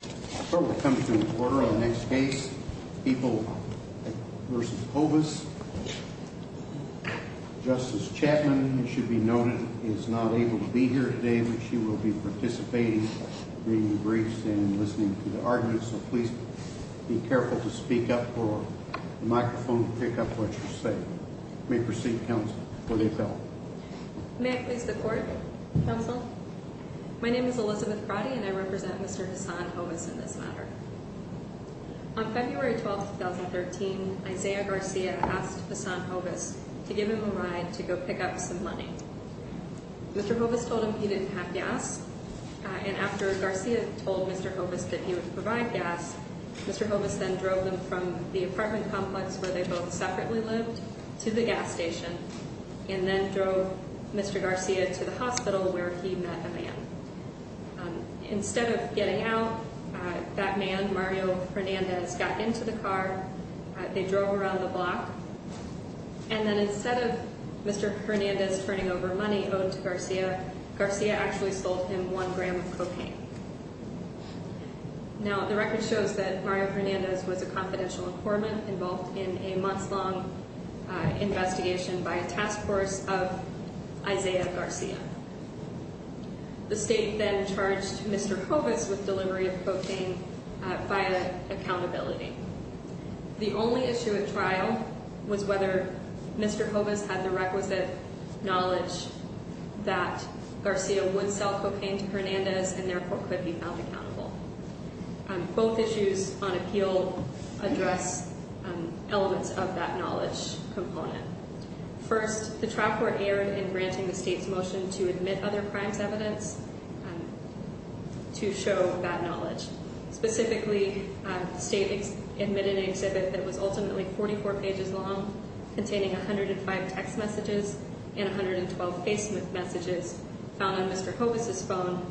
The court will come to an order on the next case, Epel v. Hovis. Justice Chapman, it should be noted, is not able to be here today, but she will be participating, reading the briefs and listening to the arguments. So please be careful to speak up for the microphone to pick up what you say. You may proceed, counsel, for the appellate. May I please the court, counsel? My name is Elizabeth Brody, and I represent Mr. Hassan Hovis in this matter. On February 12, 2013, Isaiah Garcia asked Hassan Hovis to give him a ride to go pick up some money. Mr. Hovis told him he didn't have gas, and after Garcia told Mr. Hovis that he would provide gas, Mr. Hovis then drove them from the apartment complex where they both separately lived to the gas station and then drove Mr. Garcia to the hospital where he met a man. Instead of getting out, that man, Mario Hernandez, got into the car, they drove around the block, and then instead of Mr. Hernandez turning over money owed to Garcia, Garcia actually sold him one gram of cocaine. Now, the record shows that Mario Hernandez was a confidential informant involved in a months-long investigation by a task force of Isaiah Garcia. The state then charged Mr. Hovis with delivery of cocaine via accountability. The only issue at trial was whether Mr. Hovis had the requisite knowledge that Garcia would sell cocaine to Hernandez and therefore could be held accountable. Both issues on appeal address elements of that knowledge component. First, the trial court erred in granting the state's motion to admit other crimes evidence to show that knowledge. Specifically, the state admitted an exhibit that was ultimately 44 pages long, containing 105 text messages and 112 Facebook messages found on Mr. Hovis' phone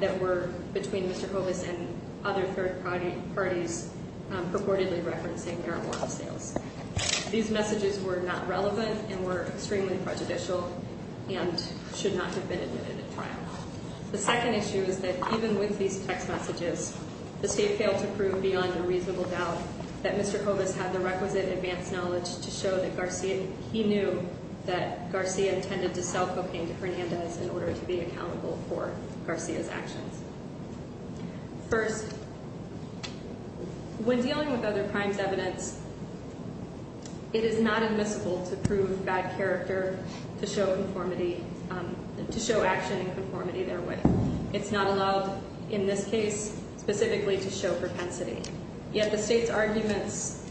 that were between Mr. Hovis and other third parties purportedly referencing marijuana sales. These messages were not relevant and were extremely prejudicial and should not have been admitted at trial. The second issue is that even with these text messages, the state failed to prove beyond a reasonable doubt that Mr. Hovis had the requisite advanced knowledge to show that he knew that Garcia intended to sell cocaine to Hernandez in order to be accountable for Garcia's actions. First, when dealing with other crimes evidence, it is not admissible to prove bad character to show action and conformity therewith. It's not allowed in this case specifically to show propensity. Yet the state's arguments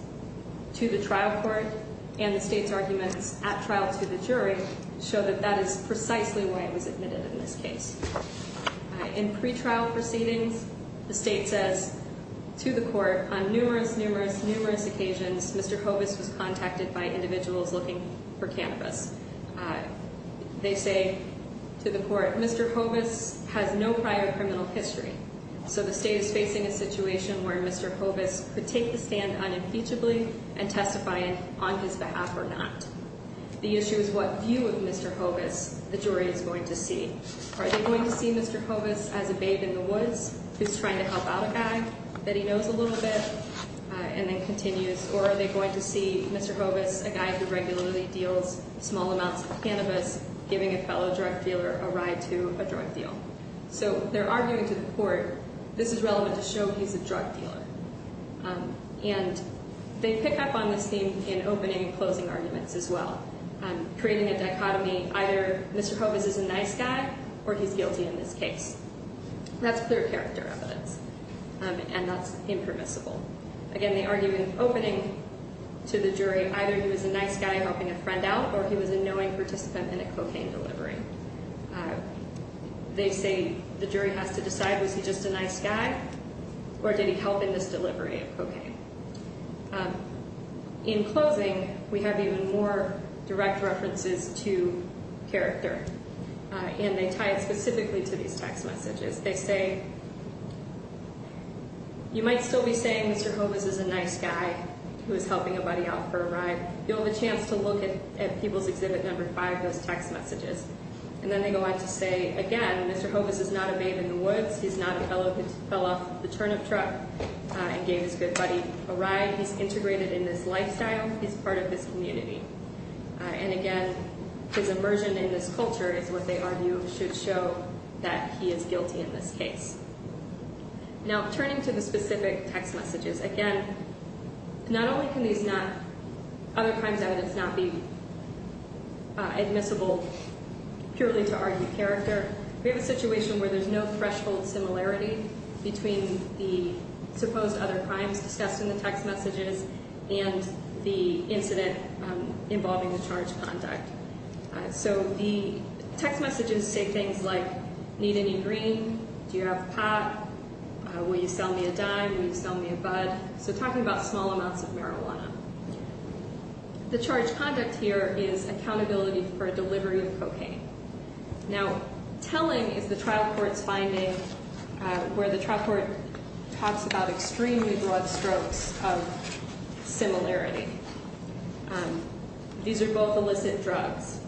to the trial court and the state's arguments at trial to the jury show that that is precisely why it was admitted in this case. In pretrial proceedings, the state says to the court, on numerous, numerous, numerous occasions, Mr. Hovis was contacted by individuals looking for cannabis. They say to the court, Mr. Hovis has no prior criminal history. So the state is facing a situation where Mr. Hovis could take the stand unimpeachably and testify on his behalf or not. The issue is what view of Mr. Hovis the jury is going to see. Are they going to see Mr. Hovis as a babe in the woods who's trying to help out a guy that he knows a little bit and then continues? Or are they going to see Mr. Hovis, a guy who regularly deals small amounts of cannabis, giving a fellow drug dealer a ride to a drug deal? So they're arguing to the court, this is relevant to show he's a drug dealer. And they pick up on this theme in opening and closing arguments as well, creating a dichotomy. Either Mr. Hovis is a nice guy or he's guilty in this case. That's clear character evidence and that's impermissible. Again, they argue in opening to the jury, either he was a nice guy helping a friend out or he was a knowing participant in a cocaine delivery. They say the jury has to decide, was he just a nice guy or did he help in this delivery of cocaine? In closing, we have even more direct references to character and they tie it specifically to these text messages. They say, you might still be saying Mr. Hovis is a nice guy who is helping a buddy out for a ride. You'll have a chance to look at People's Exhibit No. 5, those text messages. And then they go on to say, again, Mr. Hovis is not a babe in the woods. He's not a fellow who fell off the turnip truck and gave his good buddy a ride. He's integrated in this lifestyle. He's part of this community. And again, his immersion in this culture is what they argue should show that he is guilty in this case. Now, turning to the specific text messages. Again, not only can these not, other crimes evidence not be admissible purely to argue character, we have a situation where there's no threshold similarity between the supposed other crimes discussed in the text messages and the incident involving the charged conduct. So the text messages say things like, need any green? Do you have pot? Will you sell me a dime? Will you sell me a bud? So talking about small amounts of marijuana. The charged conduct here is accountability for delivery of cocaine. Now, telling is the trial court's finding where the trial court talks about extremely broad strokes of similarity. These are both illicit drugs.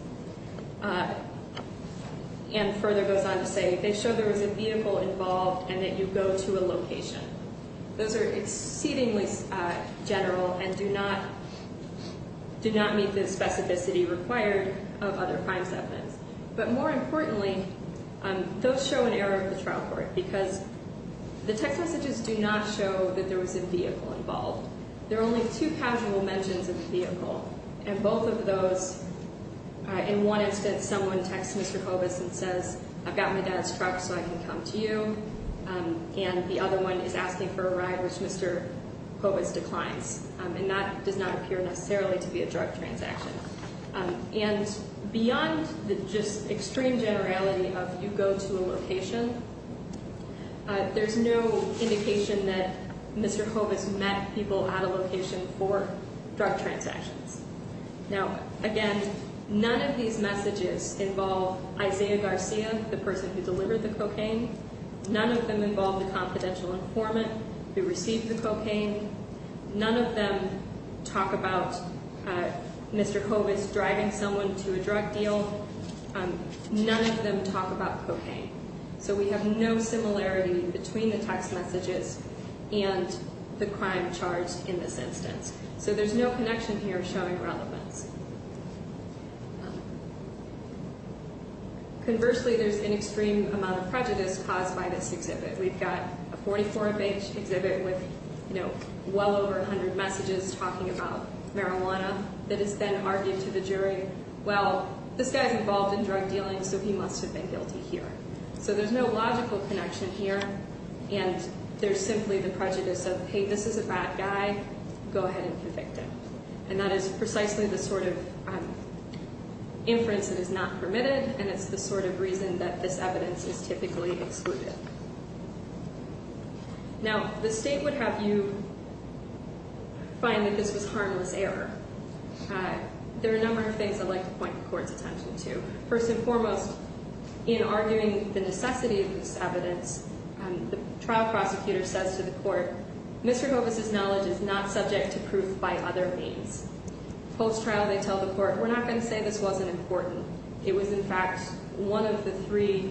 And further goes on to say, they show there was a vehicle involved and that you go to a location. Those are exceedingly general and do not meet the specificity required of other crimes evidence. But more importantly, those show an error of the trial court because the text messages do not show that there was a vehicle involved. There are only two casual mentions of the vehicle. And both of those, in one instance, someone texts Mr. Hobus and says, I've got my dad's truck so I can come to you. And the other one is asking for a ride, which Mr. Hobus declines. And that does not appear necessarily to be a drug transaction. And beyond the just extreme generality of you go to a location, there's no indication that Mr. Hobus met people at a location for drug transactions. Now, again, none of these messages involve Isaiah Garcia, the person who delivered the cocaine. None of them involve the confidential informant who received the cocaine. None of them talk about Mr. Hobus driving someone to a drug deal. None of them talk about cocaine. So we have no similarity between the text messages and the crime charged in this instance. So there's no connection here showing relevance. Conversely, there's an extreme amount of prejudice caused by this exhibit. We've got a 44-page exhibit with, you know, well over 100 messages talking about marijuana that is then argued to the jury. Well, this guy's involved in drug dealing so he must have been guilty here. So there's no logical connection here. And there's simply the prejudice of, hey, this is a bad guy. Go ahead and convict him. And that is precisely the sort of inference that is not permitted. And it's the sort of reason that this evidence is typically excluded. Now, the state would have you find that this was harmless error. There are a number of things I'd like to point the court's attention to. First and foremost, in arguing the necessity of this evidence, the trial prosecutor says to the court, Mr. Hobus' knowledge is not subject to proof by other means. Post-trial, they tell the court, we're not going to say this wasn't important. It was, in fact, one of the three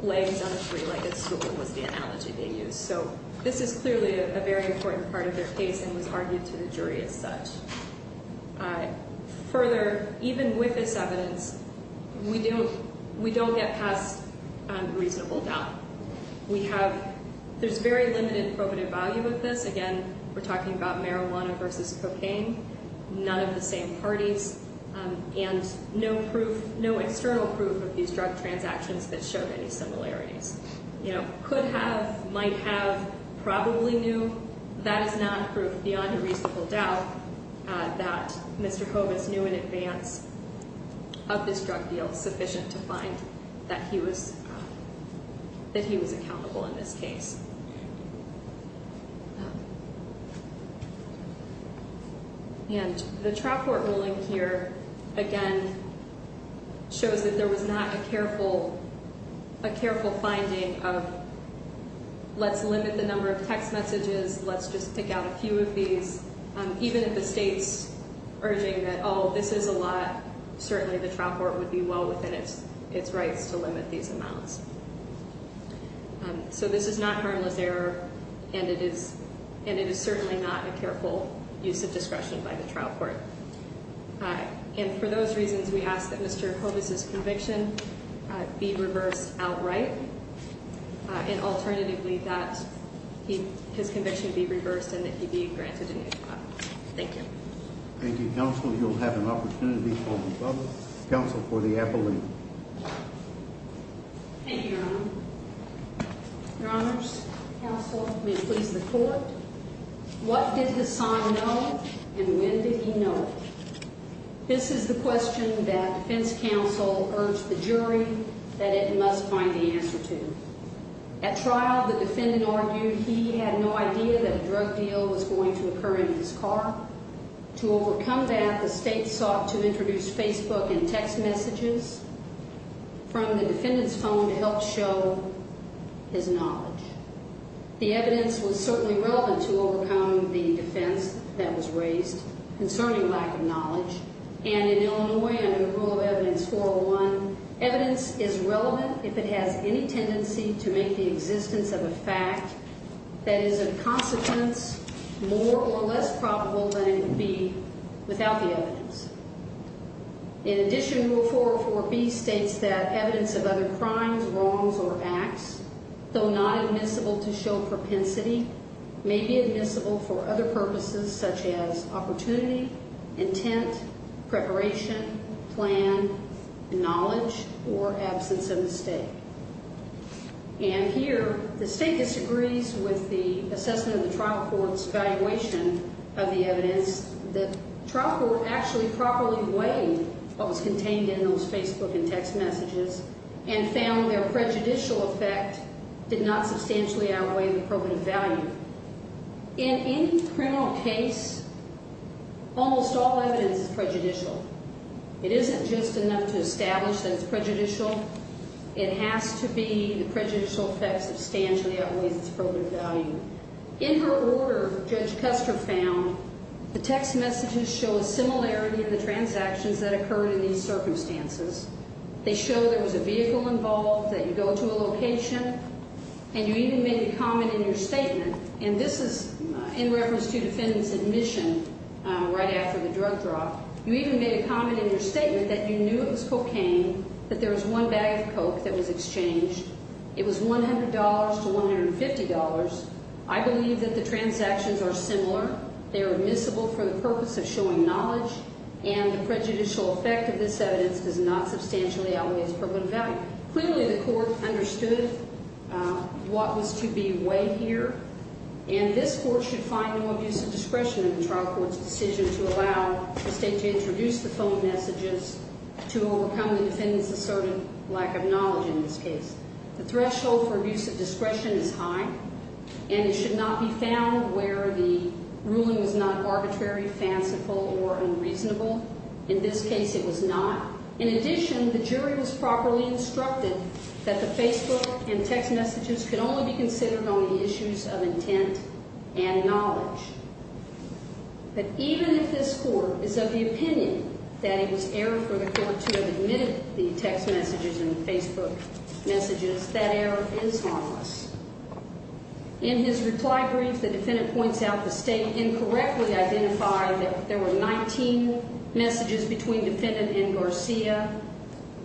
legs on a tree like a stool was the analogy they used. So this is clearly a very important part of their case and was argued to the jury as such. Further, even with this evidence, we don't get past reasonable doubt. We have – there's very limited probative value of this. Again, we're talking about marijuana versus cocaine. None of the same parties. And no proof, no external proof of these drug transactions that showed any similarities. You know, could have, might have, probably knew. That is not proof beyond a reasonable doubt that Mr. Hobus knew in advance of this drug deal sufficient to find that he was – that he was accountable in this case. And the trial court ruling here, again, shows that there was not a careful – a careful finding of let's limit the number of text messages, let's just pick out a few of these. Even if the state's urging that, oh, this is a lot, certainly the trial court would be well within its rights to limit these amounts. So this is not harmless error, and it is – and it is certainly not a careful use of discretion by the trial court. And for those reasons, we ask that Mr. Hobus' conviction be reversed outright, and alternatively that he – his conviction be reversed and that he be granted a new trial. Thank you. Thank you, counsel. You'll have an opportunity for the public – counsel for the appellate. Thank you, Your Honor. Your Honors, counsel, may it please the court. What did Hassan know, and when did he know it? This is the question that defense counsel urged the jury that it must find the answer to. At trial, the defendant argued he had no idea that a drug deal was going to occur in his car. To overcome that, the state sought to introduce Facebook and text messages from the defendant's phone to help show his knowledge. The evidence was certainly relevant to overcome the defense that was raised concerning lack of knowledge. And in Illinois, under the rule of Evidence 401, evidence is relevant if it has any tendency to make the existence of a fact that is of consequence more or less probable than it would be without the evidence. In addition, Rule 404B states that evidence of other crimes, wrongs, or acts, though not admissible to show propensity, may be admissible for other purposes such as opportunity, intent, preparation, plan, knowledge, or absence of mistake. And here, the state disagrees with the assessment of the trial court's evaluation of the evidence. The trial court actually properly weighed what was contained in those Facebook and text messages and found their prejudicial effect did not substantially outweigh the probative value. In any criminal case, almost all evidence is prejudicial. It isn't just enough to establish that it's prejudicial. It has to be the prejudicial effect substantially outweighs its probative value. In her order, Judge Custer found the text messages show a similarity in the transactions that occurred in these circumstances. They show there was a vehicle involved, that you go to a location, and you even make a comment in your statement. And this is in reference to the defendant's admission right after the drug drop. You even made a comment in your statement that you knew it was cocaine, that there was one bag of coke that was exchanged. It was $100 to $150. I believe that the transactions are similar. They are admissible for the purpose of showing knowledge. And the prejudicial effect of this evidence does not substantially outweigh its probative value. Clearly, the court understood what was to be weighed here. And this court should find no abuse of discretion in the trial court's decision to allow the state to introduce the phone messages to overcome the defendant's assertive lack of knowledge in this case. The threshold for abuse of discretion is high. And it should not be found where the ruling was not arbitrary, fanciful, or unreasonable. In this case, it was not. In addition, the jury was properly instructed that the Facebook and text messages can only be considered on the issues of intent and knowledge. But even if this court is of the opinion that it was error for the court to have admitted the text messages and the Facebook messages, that error is harmless. In his reply brief, the defendant points out the state incorrectly identified that there were 19 messages between defendant and Garcia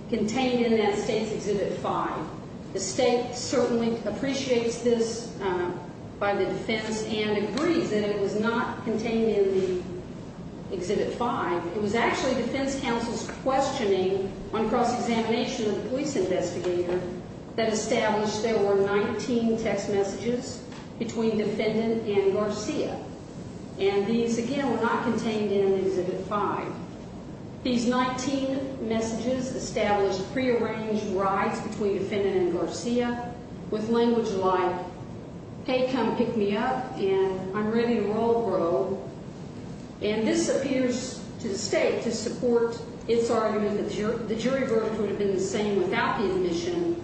contained in that state's Exhibit 5. The state certainly appreciates this by the defense and agrees that it was not contained in the Exhibit 5. It was actually defense counsel's questioning on cross-examination of the police investigator that established there were 19 text messages between defendant and Garcia. And these, again, were not contained in Exhibit 5. These 19 messages established prearranged rides between defendant and Garcia with language like, hey, come pick me up, and I'm ready to roll, bro. And this appears to the state to support its argument that the jury verdict would have been the same without the admission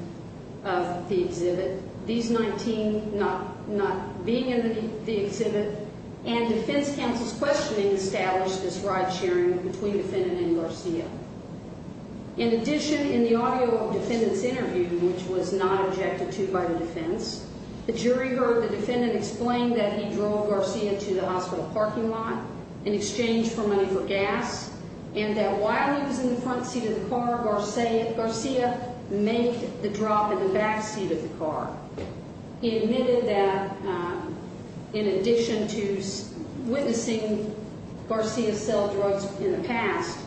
of the exhibit. These 19 not being in the exhibit and defense counsel's questioning established this ride sharing between defendant and Garcia. In addition, in the audio of defendant's interview, which was not objected to by the defense, the jury heard the defendant explain that he drove Garcia to the hospital parking lot in exchange for money for gas, and that while he was in the front seat of the car, Garcia made the drop in the back seat of the car. He admitted that in addition to witnessing Garcia sell drugs in the past,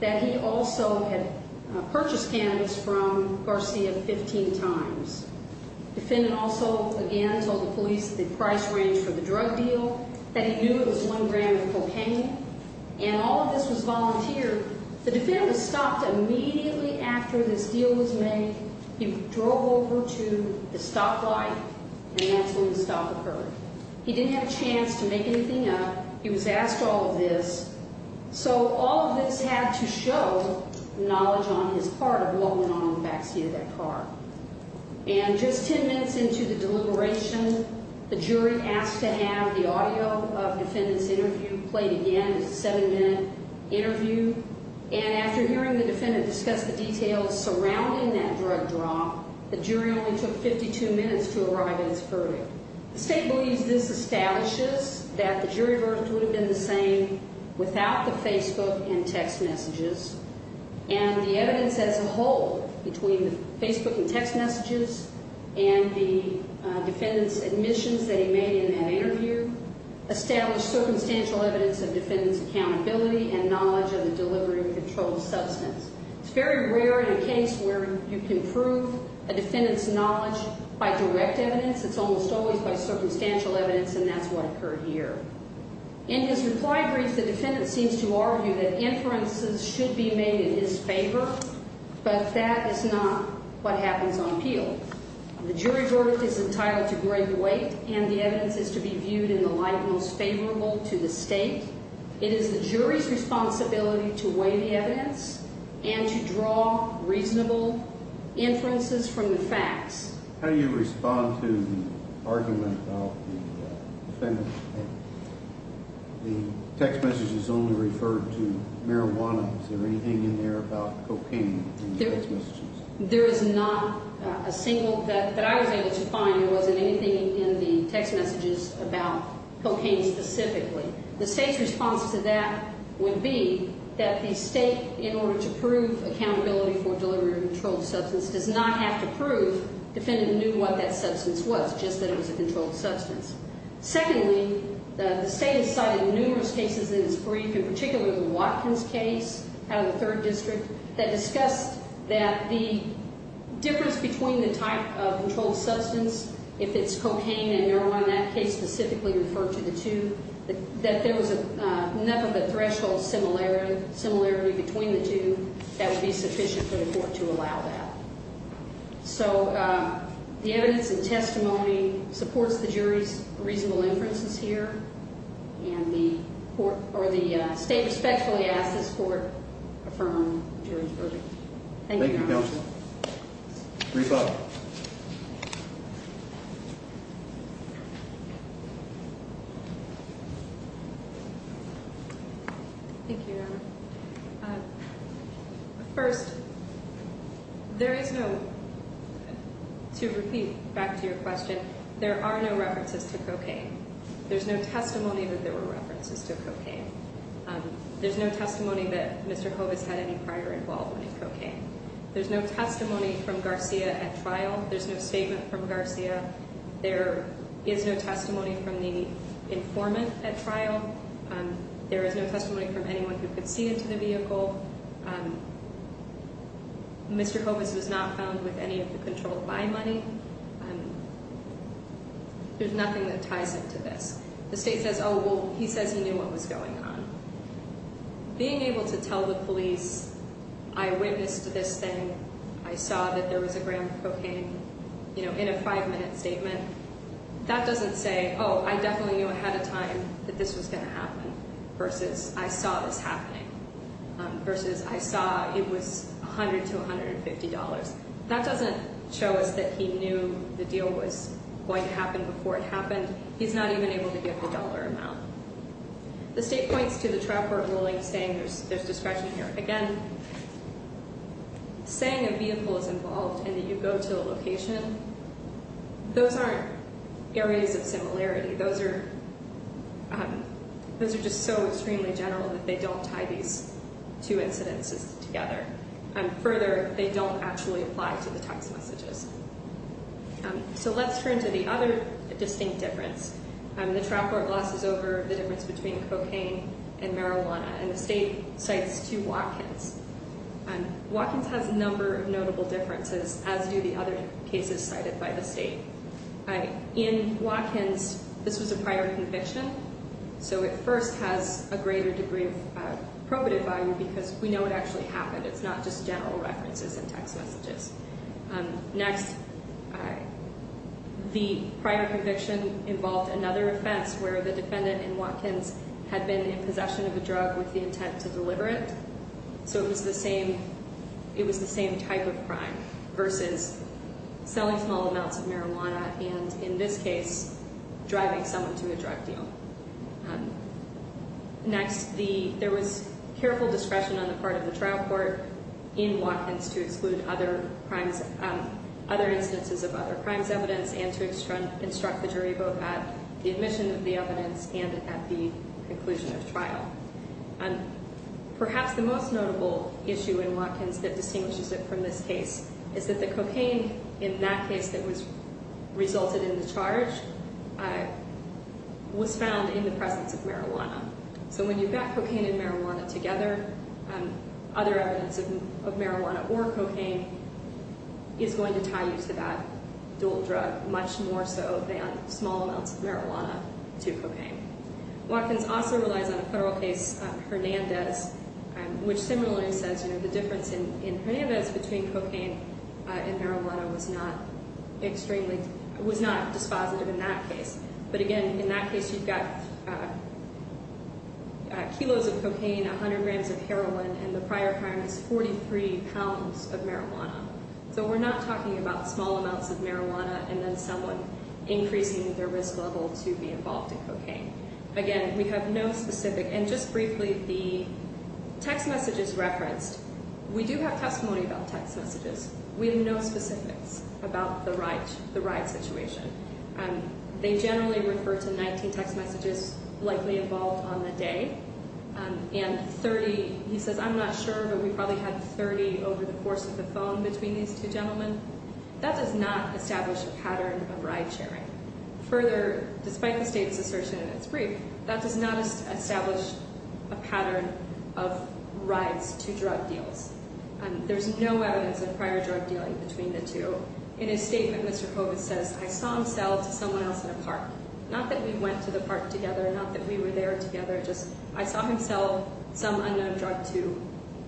that he also had purchased cannabis from Garcia 15 times. Defendant also, again, told the police the price range for the drug deal, that he knew it was one gram of cocaine, and all of this was volunteered. The defendant was stopped immediately after this deal was made. He drove over to the stoplight, and that's when the stop occurred. He didn't have a chance to make anything up. He was asked all of this. So all of this had to show knowledge on his part of what went on in the back seat of that car. And just 10 minutes into the deliberation, the jury asked to have the audio of defendant's interview played again. It's a seven-minute interview. And after hearing the defendant discuss the details surrounding that drug drop, the jury only took 52 minutes to arrive at its verdict. The state believes this establishes that the jury verdict would have been the same without the Facebook and text messages. And the evidence as a whole between the Facebook and text messages and the defendant's admissions that he made in that interview established circumstantial evidence of defendant's accountability and knowledge of the delivery of the controlled substance. It's very rare in a case where you can prove a defendant's knowledge by direct evidence. It's almost always by circumstantial evidence, and that's what occurred here. In his reply brief, the defendant seems to argue that inferences should be made in his favor, but that is not what happens on appeal. The jury verdict is entitled to grade the weight, and the evidence is to be viewed in the light most favorable to the state. It is the jury's responsibility to weigh the evidence and to draw reasonable inferences from the facts. How do you respond to the argument about the defendant that the text messages only referred to marijuana? Is there anything in there about cocaine in the text messages? There is not a single that I was able to find. There wasn't anything in the text messages about cocaine specifically. The state's response to that would be that the state, in order to prove accountability for delivery of a controlled substance, does not have to prove defendant knew what that substance was, just that it was a controlled substance. Secondly, the state has cited numerous cases in its brief, in particular the Watkins case out of the 3rd District, that discussed that the difference between the type of controlled substance, if it's cocaine and marijuana, in that case specifically referred to the two, that there was enough of a threshold similarity between the two that would be sufficient for the court to allow that. So the evidence and testimony supports the jury's reasonable inferences here, and the state respectfully asks this court to affirm the jury's verdict. Thank you, counsel. Brief up. Thank you, Your Honor. First, there is no, to repeat back to your question, there are no references to cocaine. There's no testimony that there were references to cocaine. There's no testimony that Mr. Hovis had any prior involvement in cocaine. There's no testimony from Garcia at trial. There's no statement from Garcia. There is no testimony from the informant at trial. There is no testimony from anyone who could see into the vehicle. Mr. Hovis was not found with any of the controlled by money. There's nothing that ties into this. The state says, oh, well, he says he knew what was going on. Being able to tell the police, I witnessed this thing, I saw that there was a gram of cocaine, you know, in a five-minute statement, that doesn't say, oh, I definitely knew ahead of time that this was going to happen versus I saw this happening versus I saw it was $100 to $150. That doesn't show us that he knew the deal was going to happen before it happened. He's not even able to give the dollar amount. The state points to the trial court ruling saying there's discretion here. Again, saying a vehicle is involved and that you go to a location, those aren't areas of similarity. Those are just so extremely general that they don't tie these two incidences together. Further, they don't actually apply to the text messages. So let's turn to the other distinct difference. The trial court glosses over the difference between cocaine and marijuana, and the state cites two Watkins. Watkins has a number of notable differences, as do the other cases cited by the state. In Watkins, this was a prior conviction, so it first has a greater degree of probative value because we know it actually happened. It's not just general references in text messages. Next, the prior conviction involved another offense where the defendant in Watkins had been in possession of a drug with the intent to deliver it, so it was the same type of crime versus selling small amounts of marijuana and, in this case, driving someone to a drug deal. Next, there was careful discretion on the part of the trial court in Watkins to exclude other instances of other crimes evidence and to instruct the jury both at the admission of the evidence and at the conclusion of trial. Perhaps the most notable issue in Watkins that distinguishes it from this case is that the cocaine in that case that resulted in the charge was found in the presence of marijuana. So when you've got cocaine and marijuana together, other evidence of marijuana or cocaine is going to tie you to that dual drug much more so than small amounts of marijuana to cocaine. Watkins also relies on a federal case, Hernandez, which similarly says the difference in Hernandez between cocaine and marijuana was not dispositive in that case. But again, in that case, you've got kilos of cocaine, 100 grams of heroin, and the prior crime is 43 pounds of marijuana. So we're not talking about small amounts of marijuana and then someone increasing their risk level to be involved in cocaine. Again, we have no specific, and just briefly, the text messages referenced, we do have testimony about text messages. We have no specifics about the ride situation. They generally refer to 19 text messages likely involved on the day, and 30, he says, I'm not sure, but we probably had 30 over the course of the phone between these two gentlemen. That does not establish a pattern of ride sharing. Further, despite the state's assertion in its brief, that does not establish a pattern of rides to drug deals. There's no evidence of prior drug dealing between the two. In his statement, Mr. Kovitz says, I saw him sell to someone else in a park. Not that we went to the park together, not that we were there together, just I saw him sell some unknown drug to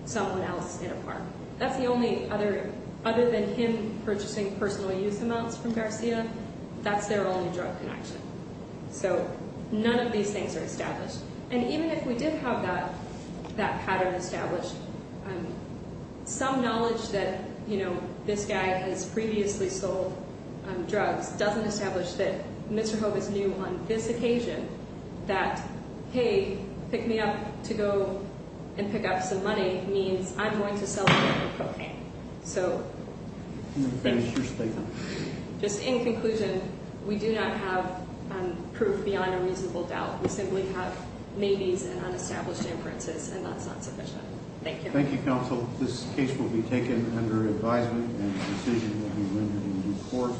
someone else in a park. That's the only other than him purchasing personal use amounts from Garcia. That's their only drug connection. So none of these things are established. And even if we did have that pattern established, some knowledge that this guy has previously sold drugs doesn't establish that Mr. Kovitz knew on this occasion that, hey, pick me up to go and pick up some money means I'm going to sell cocaine. So- Can you finish your statement? Just in conclusion, we do not have proof beyond a reasonable doubt. We simply have maybes and unestablished inferences, and that's not sufficient. Thank you. Thank you, counsel. This case will be taken under advisement and a decision will be rendered in court.